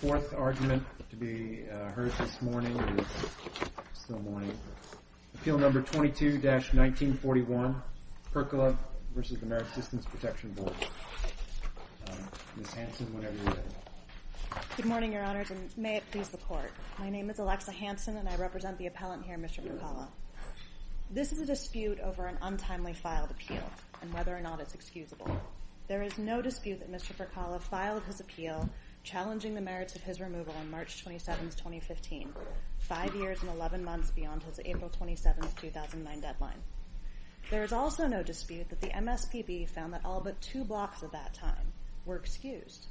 4. Appeal No. 22-1941, Perkkala v. Merit Systems Protection Board Good morning, Your Honors, and may it please the Court. My name is Alexa Hanson, and I represent the appellant here, Mr. Perkkala. This is a dispute over an untimely filed appeal and whether or not it's excusable. There is no dispute that Mr. Perkkala filed his appeal challenging the merits of his removal on March 27, 2015, five years and 11 months beyond his April 27, 2009 deadline. There is also no dispute that the MSPB found that all but two blocks of that time were excused.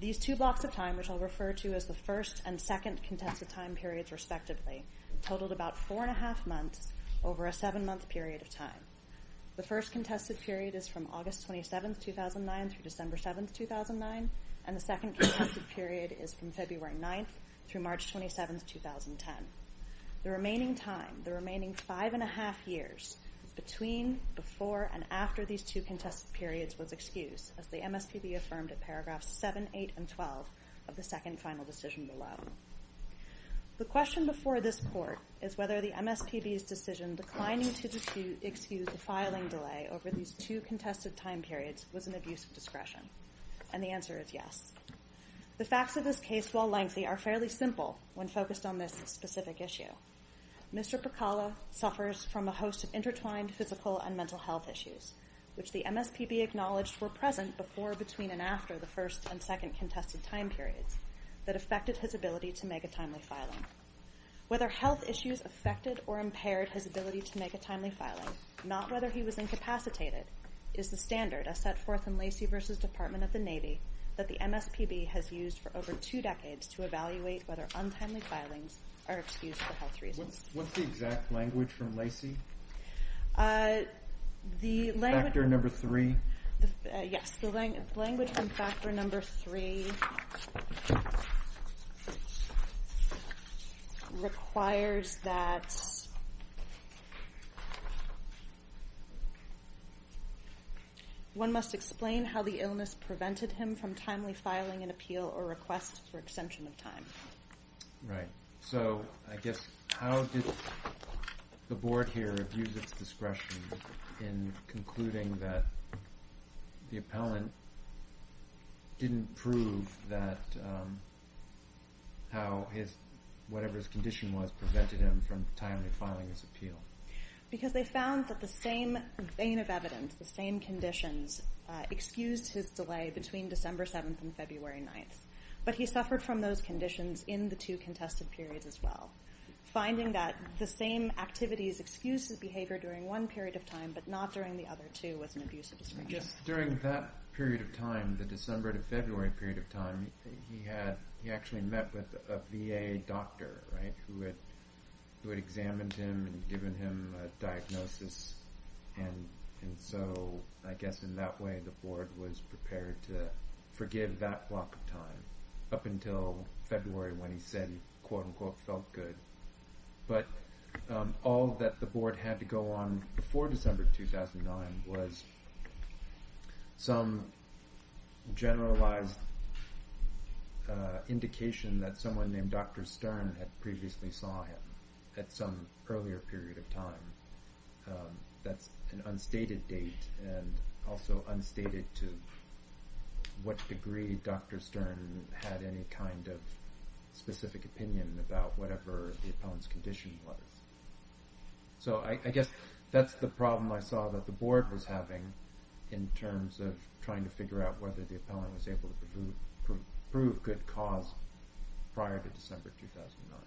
These two blocks of time, which I'll refer to as the first and second contested time periods respectively, totaled about four-and-a-half months over a seven-month period of time. The first contested period is from August 27, 2009 through December 7, 2009, and the second contested period is from February 9 through March 27, 2010. The remaining time, the remaining five-and-a-half years between, before, and after these two contested periods was excused, as the MSPB affirmed in paragraphs 7, 8, and 12 of the second final decision below. The question before this court is whether the MSPB's decision declining to excuse the filing delay over these two contested time periods was an abuse of discretion, and the answer is yes. The facts of this case, while lengthy, are fairly simple when focused on this specific issue. Mr. Perkkala suffers from a host of intertwined physical and mental health issues, which the MSPB acknowledged were present before, between, and after the first and second contested time periods that affected his ability to make a timely filing. Whether health issues affected or impaired his ability to make a timely filing, not whether he was incapacitated, is the standard, as set forth in Lacey v. Department of the Navy, that the MSPB has used for over two decades to evaluate whether untimely filings are excused for health reasons. What's the exact language from Lacey? The language... Factor number three. Yes, the language from factor number three requires that one must explain how the illness prevented him from timely filing an appeal or request for extension of time. Right. So I guess how did the Board here abuse its discretion in concluding that the appellant didn't prove that how whatever his condition was prevented him from timely filing his appeal? Because they found that the same vein of evidence, the same conditions, excused his delay between December 7th and February 9th. But he suffered from those conditions in the two contested periods as well. Finding that the same activities excused his behavior during one period of time but not during the other two was an abuse of discretion. Just during that period of time, the December to February period of time, he actually met with a VA doctor who had examined him and given him a diagnosis. And so, I guess in that way, the Board was prepared to forgive that block of time up until February when he said, quote unquote, felt good. But all that the Board had to go on before December 2009 was some generalized indication that someone named Dr. Stern had previously saw him at some earlier period of time. That's an unstated date and also unstated to what degree Dr. Stern had any kind of specific opinion about whatever the appellant's condition was. So I guess that's the problem I saw that the Board was having in terms of trying to figure out whether the appellant was able to prove good cause prior to December 2009.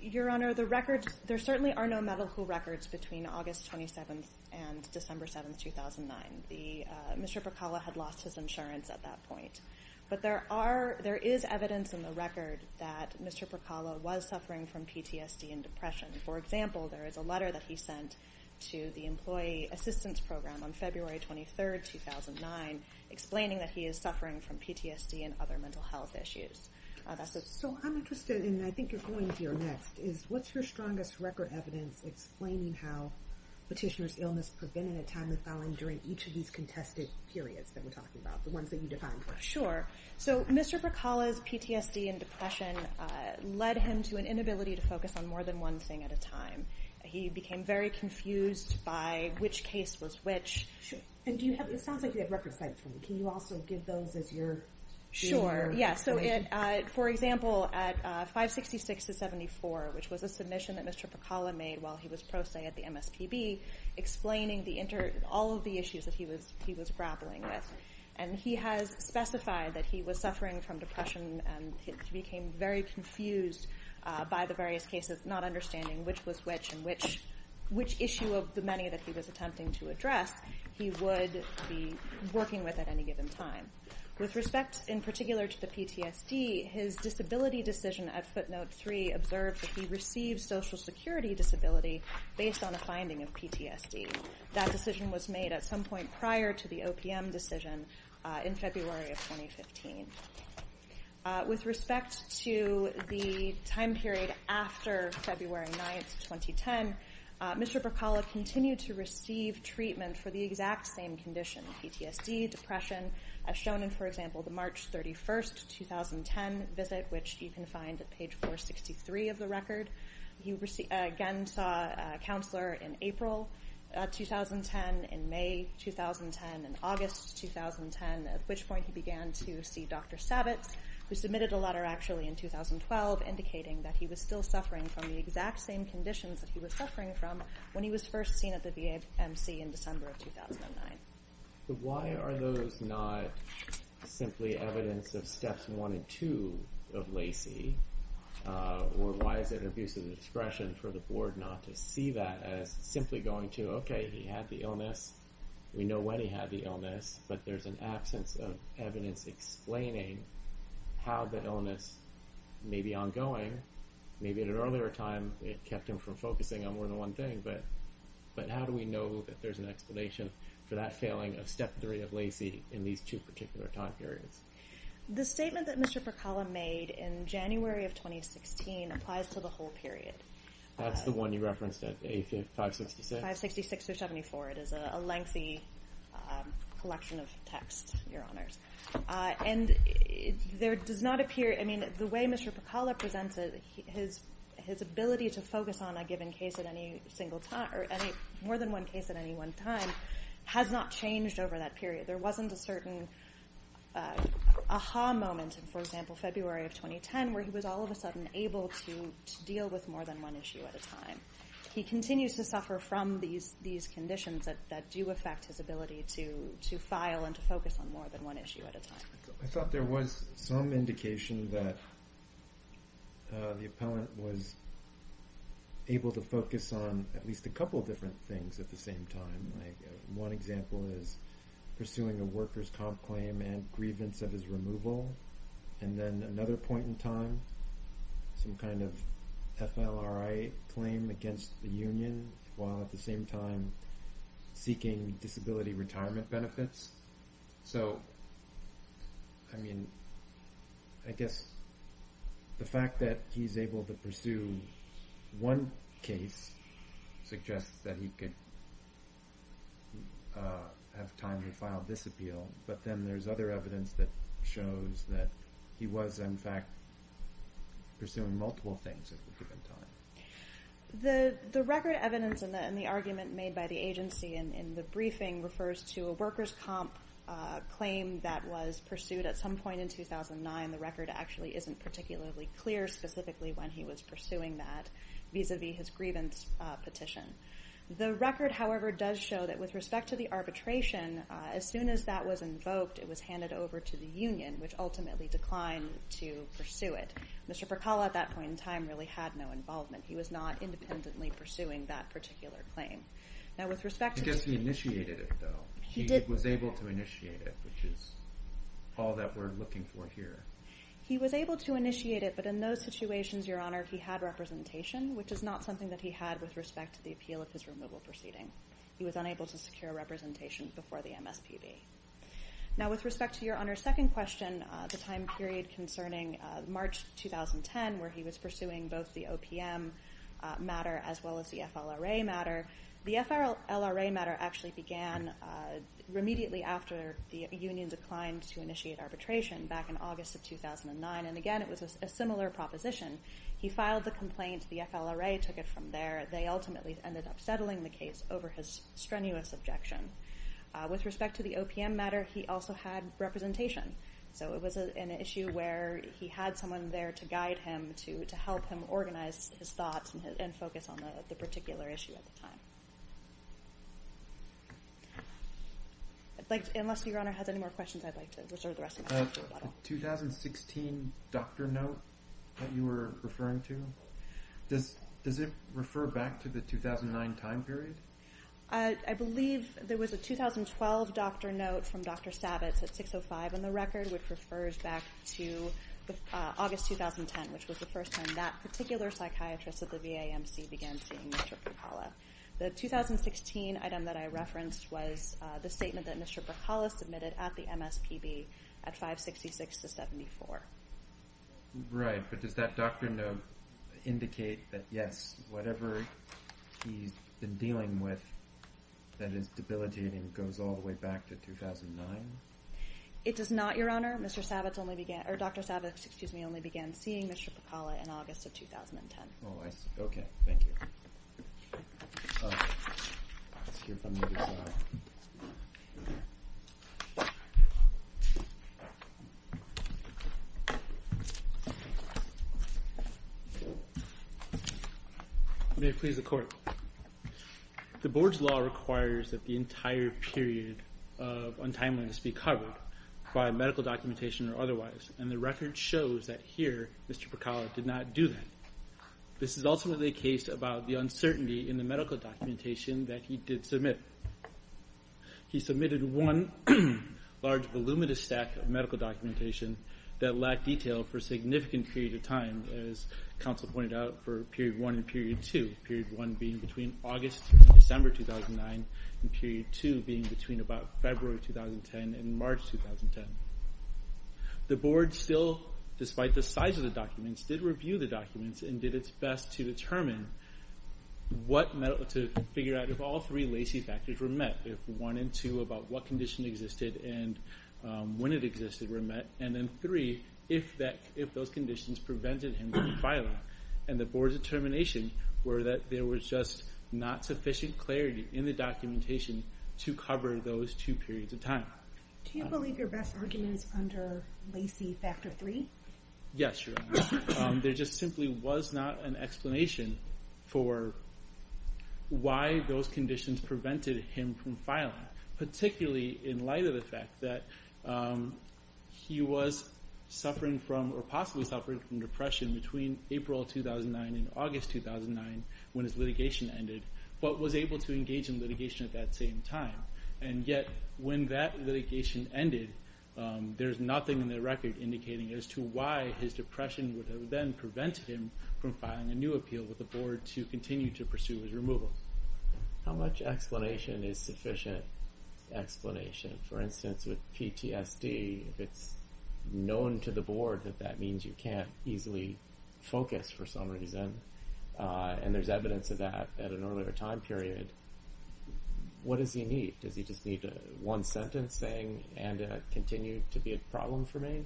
Your Honor, there certainly are no medical records between August 27th and December 7th, 2009. Mr. Percala had lost his insurance at that point. But there is evidence in the record that Mr. Percala was suffering from PTSD and depression. For example, there is a letter that he sent to the employee assistance program on February 23rd, 2009 explaining that he is suffering from PTSD and other mental health issues. So I'm interested, and I think you're going here next, is what's your strongest record evidence explaining how petitioner's illness prevented a time of filing during each of these contested periods that we're talking about, the ones that you defined? Sure. So Mr. Percala's PTSD and depression led him to an inability to focus on more than one thing at a time. He became very confused by which case was which. It sounds like you have record of sight for me. Can you also give those as you're doing your explanation? Sure. For example, at 566-74, which was a submission that Mr. Percala made while he was pro se at the MSPB, explaining all of the issues that he was grappling with. And he has specified that he was suffering from depression and became very confused by the various cases, not understanding which was which and which issue of the many that he was attempting to address he would be working with at any given time. With respect, in particular, to the PTSD, his disability decision at footnote three observed that he received social security disability based on a finding of PTSD. That decision was made at some point prior to the OPM decision in February of 2015. With respect to the time period after February 9th, 2010, Mr. Percala continued to receive treatment for the exact same condition, PTSD, depression, as shown in, for example, the March 31st, 2010 visit, which you can find at page 463 of the record. He again saw a counselor in April 2010, in May 2010, in August 2010, at which point he began to see Dr. Sabbats, who submitted a letter actually in 2012, indicating that he was still suffering from the exact same conditions that he was suffering from when he was first seen at the VAMC in December of 2009. So why are those not simply evidence of steps one and two of LACI? Or why is it an abuse of discretion for the board not to see that as simply going to, okay, he had the illness, we know when he had the illness, but there's an absence of evidence explaining how the illness may be ongoing. Maybe at an earlier time it kept him from focusing on more than one thing, but how do we know that there's an explanation for that failing of step three of LACI in these two particular time periods? The statement that Mr. Percala made in January of 2016 applies to the whole period. That's the one you referenced at 566? Yes, 566 through 74. It is a lengthy collection of text, Your Honors. And there does not appear ñ I mean, the way Mr. Percala presents it, his ability to focus on a given case at any single time or more than one case at any one time has not changed over that period. There wasn't a certain aha moment in, for example, February of 2010 where he was all of a sudden able to deal with more than one issue at a time. He continues to suffer from these conditions that do affect his ability to file and to focus on more than one issue at a time. I thought there was some indication that the appellant was able to focus on at least a couple of different things at the same time. One example is pursuing a workers' comp claim and grievance of his removal. And then another point in time, some kind of FLRA claim against the union while at the same time seeking disability retirement benefits. So, I mean, I guess the fact that he's able to pursue one case suggests that he could have time to file this appeal. But then there's other evidence that shows that he was, in fact, pursuing multiple things at the given time. The record evidence in the argument made by the agency in the briefing refers to a workers' comp claim that was pursued at some point in 2009. The record actually isn't particularly clear specifically when he was pursuing that vis-à-vis his grievance petition. The record, however, does show that with respect to the arbitration, as soon as that was invoked, it was handed over to the union, which ultimately declined to pursue it. Mr. Percalla at that point in time really had no involvement. He was not independently pursuing that particular claim. I guess he initiated it, though. He was able to initiate it, which is all that we're looking for here. He was able to initiate it, but in those situations, Your Honor, he had representation, which is not something that he had with respect to the appeal of his removal proceeding. He was unable to secure representation before the MSPB. Now, with respect to Your Honor's second question, the time period concerning March 2010, where he was pursuing both the OPM matter as well as the FLRA matter, the FLRA matter actually began immediately after the union declined to initiate arbitration back in August of 2009. Again, it was a similar proposition. He filed the complaint. The FLRA took it from there. They ultimately ended up settling the case over his strenuous objection. With respect to the OPM matter, he also had representation, so it was an issue where he had someone there to guide him, to help him organize his thoughts and focus on the particular issue at the time. Unless Your Honor has any more questions, I'd like to reserve the rest of my time. The 2016 doctor note that you were referring to, does it refer back to the 2009 time period? I believe there was a 2012 doctor note from Dr. Sabats at 6.05 on the record, which refers back to August 2010, which was the first time that particular psychiatrist at the VAMC began seeing Mr. Brikhala. The 2016 item that I referenced was the statement that Mr. Brikhala submitted at the MSPB at 566-74. Right, but does that doctor note indicate that, yes, whatever he's been dealing with that is debilitating goes all the way back to 2009? It does not, Your Honor. Dr. Sabats only began seeing Mr. Brikhala in August of 2010. Oh, I see. Okay. Thank you. May it please the Court. The Board's law requires that the entire period of untimeliness be covered by medical documentation or otherwise, and the record shows that here Mr. Brikhala did not do that. This is ultimately a case about the uncertainty in the medical documentation that he did submit. He submitted one large voluminous stack of medical documentation that lacked detail for a significant period of time, as counsel pointed out, for period 1 and period 2, period 1 being between August and December 2009 and period 2 being between about February 2010 and March 2010. The Board still, despite the size of the documents, did review the documents and did its best to determine what medical, to figure out if all three Lacey factors were met, if 1 and 2 about what condition existed and when it existed were met, and then 3, if those conditions prevented him from filing. And the Board's determination were that there was just not sufficient clarity in the documentation to cover those two periods of time. Do you believe your best argument is under Lacey factor 3? Yes, Your Honor. There just simply was not an explanation for why those conditions prevented him from filing, particularly in light of the fact that he was suffering from or possibly suffering from depression between April 2009 and August 2009 when his litigation ended, but was able to engage in litigation at that same time. And yet when that litigation ended, there's nothing in the record indicating as to why his depression would have then prevented him from filing a new appeal with the Board to continue to pursue his removal. How much explanation is sufficient explanation? For instance, with PTSD, if it's known to the Board that that means you can't easily focus for some reason, and there's evidence of that at an earlier time period, what does he need? Does he just need one sentence saying, and it continued to be a problem for me?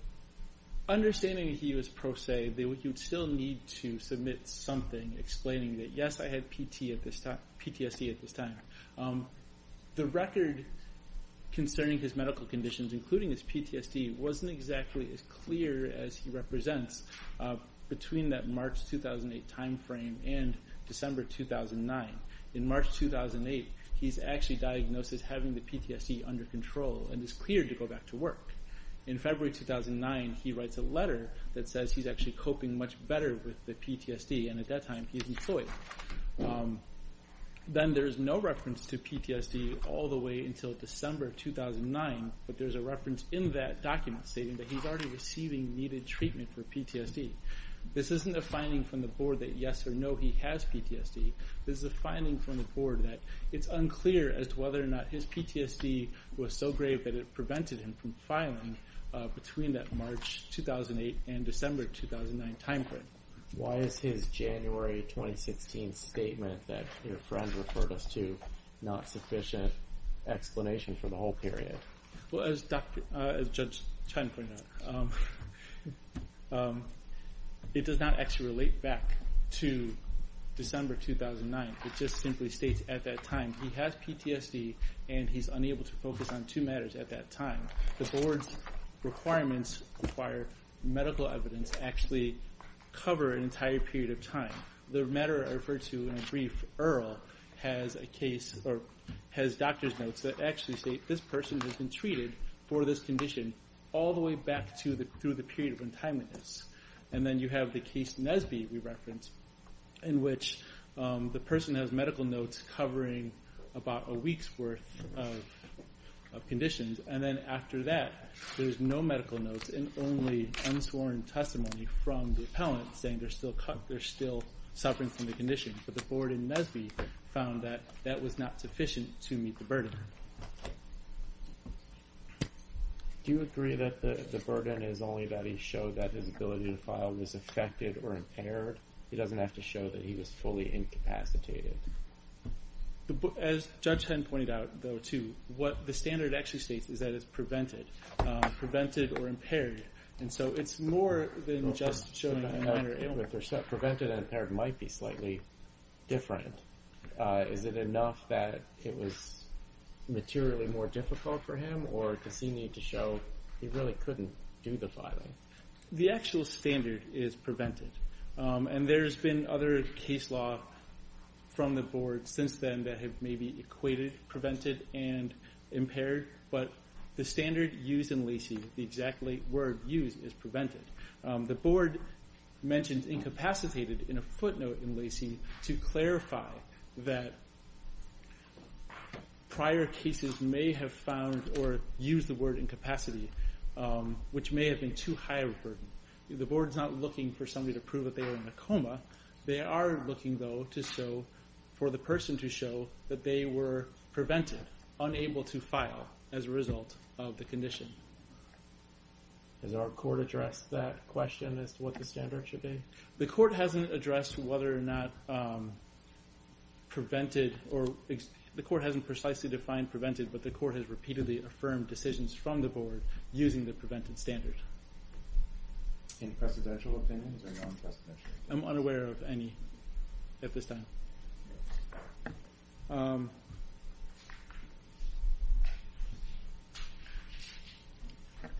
Understanding he was pro se, you'd still need to submit something explaining that, yes, I had PTSD at this time. The record concerning his medical conditions, including his PTSD, wasn't exactly as clear as he represents between that March 2008 time frame and December 2009. In March 2008, he's actually diagnosed as having the PTSD under control and is cleared to go back to work. In February 2009, he writes a letter that says he's actually coping much better with the PTSD, and at that time he's employed. Then there's no reference to PTSD all the way until December 2009, but there's a reference in that document stating that he's already receiving needed treatment for PTSD. This isn't a finding from the Board that yes or no, he has PTSD. This is a finding from the Board that it's unclear as to whether or not his PTSD was so grave that it prevented him from filing between that March 2008 and December 2009 time frame. Why is his January 2016 statement that your friend referred us to not sufficient explanation for the whole period? Well, as Judge Chen pointed out, it does not actually relate back to December 2009. It just simply states at that time he has PTSD and he's unable to focus on two matters at that time. The Board's requirements require medical evidence to actually cover an entire period of time. The matter I referred to in a brief, Earl, has doctor's notes that actually state this person has been treated for this condition all the way back through the period of untimeliness. And then you have the case Nesby we referenced in which the person has medical notes covering about a week's worth of conditions, and then after that there's no medical notes and only unsworn testimony from the appellant saying there's still suffering from the condition. But the Board in Nesby found that that was not sufficient to meet the burden. Do you agree that the burden is only that he showed that his ability to file was affected or impaired? He doesn't have to show that he was fully incapacitated. As Judge Chen pointed out, though, too, what the standard actually states is that it's prevented. Prevented or impaired. And so it's more than just showing a minor illness. Prevented and impaired might be slightly different. But is it enough that it was materially more difficult for him, or does he need to show he really couldn't do the filing? The actual standard is prevented. And there's been other case law from the Board since then that have maybe equated prevented and impaired, but the standard used in Lacey, the exact word used is prevented. The Board mentioned incapacitated in a footnote in Lacey to clarify that prior cases may have found, or used the word incapacity, which may have been too high a burden. The Board's not looking for somebody to prove that they were in a coma. They are looking, though, for the person to show that they were prevented, unable to file, as a result of the condition. Has our court addressed that question as to what the standard should be? The court hasn't addressed whether or not prevented, or the court hasn't precisely defined prevented, but the court has repeatedly affirmed decisions from the Board using the prevented standard. Any precedential opinions or non-precedential? I'm unaware of any at this time.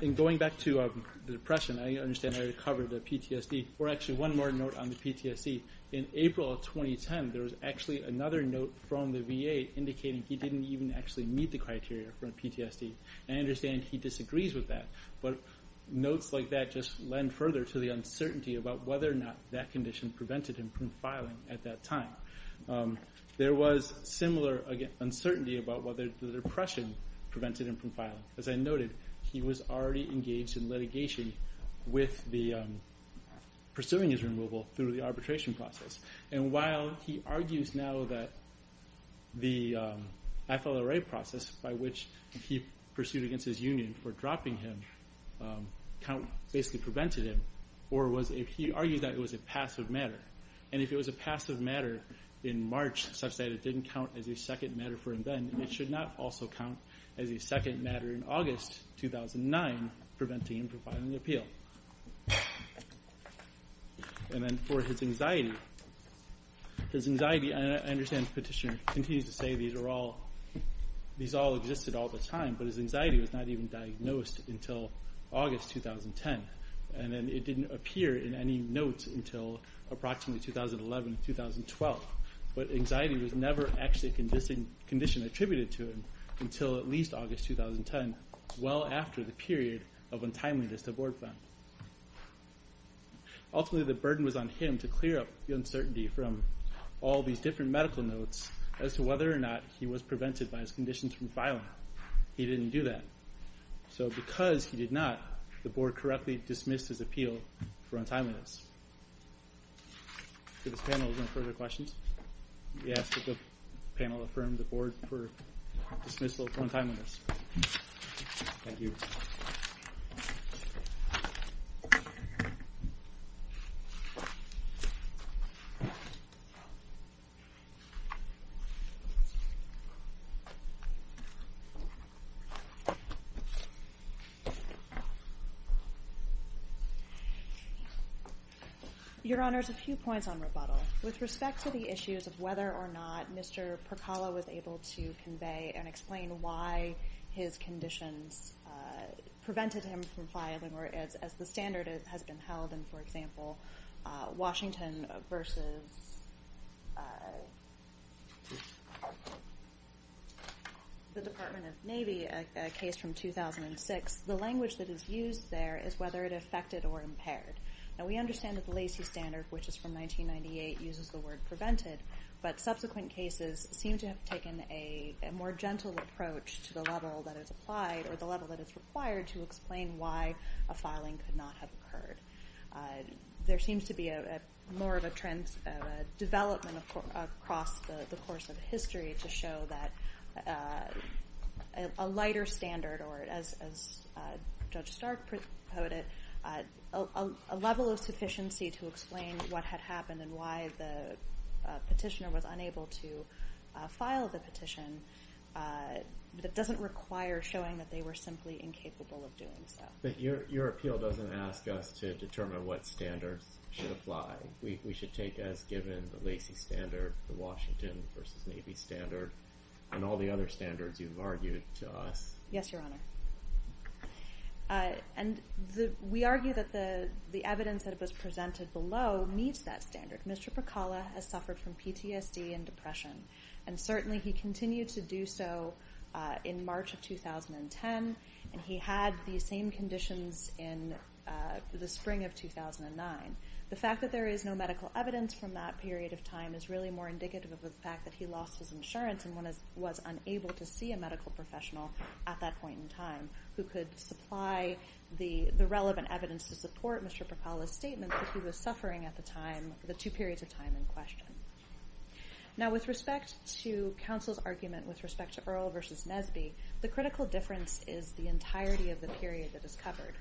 And going back to the depression, I understand I covered PTSD, or actually one more note on the PTSD. In April of 2010, there was actually another note from the VA indicating he didn't even actually meet the criteria for PTSD. I understand he disagrees with that, but notes like that just lend further to the uncertainty about whether or not that condition prevented him from filing at that time. There was similar uncertainty about whether the depression prevented him from filing. As I noted, he was already engaged in litigation with the pursuing his removal through the arbitration process. And while he argues now that the FLRA process, by which he pursued against his union for dropping him, basically prevented him, or he argued that it was a passive matter. And if it was a passive matter in March, such that it didn't count as a second matter for him then, it should not also count as a second matter in August 2009, preventing him from filing an appeal. And then for his anxiety, I understand the petitioner continues to say these all existed all the time, but his anxiety was not even diagnosed until August 2010. And it didn't appear in any notes until approximately 2011, 2012. But anxiety was never actually a condition attributed to him until at least August 2010, well after the period of untimeliness the board found. Ultimately the burden was on him to clear up the uncertainty from all these different medical notes as to whether or not he was prevented by his conditions from filing. He didn't do that. So because he did not, the board correctly dismissed his appeal for untimeliness. Do the panelists have any further questions? Yes, the panel affirmed the board for dismissal of untimeliness. Thank you. Your Honors, a few points on rebuttal. With respect to the issues of whether or not Mr. Percala was able to convey and explain why his conditions prevented him from filing or as the standard has been held in, for example, Washington versus the Department of Navy, a case from 2006, the language that is used there is whether it affected or impaired. Now we understand that the Lacey Standard, which is from 1998, uses the word prevented, but subsequent cases seem to have taken a more gentle approach to the level that is applied or the level that is required to explain why a filing could not have occurred. There seems to be more of a development across the course of history to show that a lighter standard or, as Judge Stark put it, a level of sufficiency to explain what had happened and why the petitioner was unable to file the petition that doesn't require showing that they were simply incapable of doing so. But your appeal doesn't ask us to determine what standards should apply. We should take as given the Lacey Standard, the Washington versus Navy Standard, and all the other standards you've argued to us. Yes, Your Honor. And we argue that the evidence that was presented below meets that standard. Mr. Pakala has suffered from PTSD and depression, and certainly he continued to do so in March of 2010, and he had the same conditions in the spring of 2009. The fact that there is no medical evidence from that period of time is really more indicative of the fact that he lost his insurance and was unable to see a medical professional at that point in time who could supply the relevant evidence to support Mr. Pakala's statement that he was suffering at the time for the two periods of time in question. Now, with respect to counsel's argument with respect to Earle versus Nesby, the critical difference is the entirety of the period that is covered.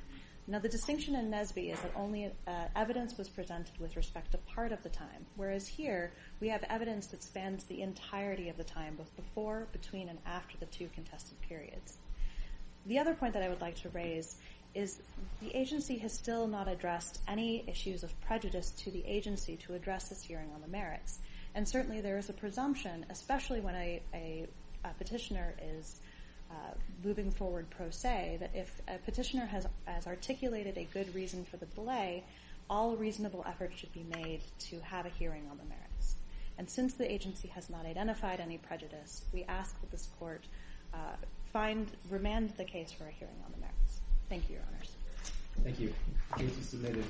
Now, the distinction in Nesby is that only evidence was presented with respect to part of the time, whereas here we have evidence that spans the entirety of the time, both before, between, and after the two contested periods. The other point that I would like to raise is the agency has still not addressed any issues of prejudice to the agency to address this hearing on the merits, and certainly there is a presumption, especially when a petitioner is moving forward pro se, that if a petitioner has articulated a good reason for the delay, all reasonable effort should be made to have a hearing on the merits. And since the agency has not identified any prejudice, we ask that this Court find, remand the case for a hearing on the merits. Thank you, Your Honors. Thank you. Case is submitted.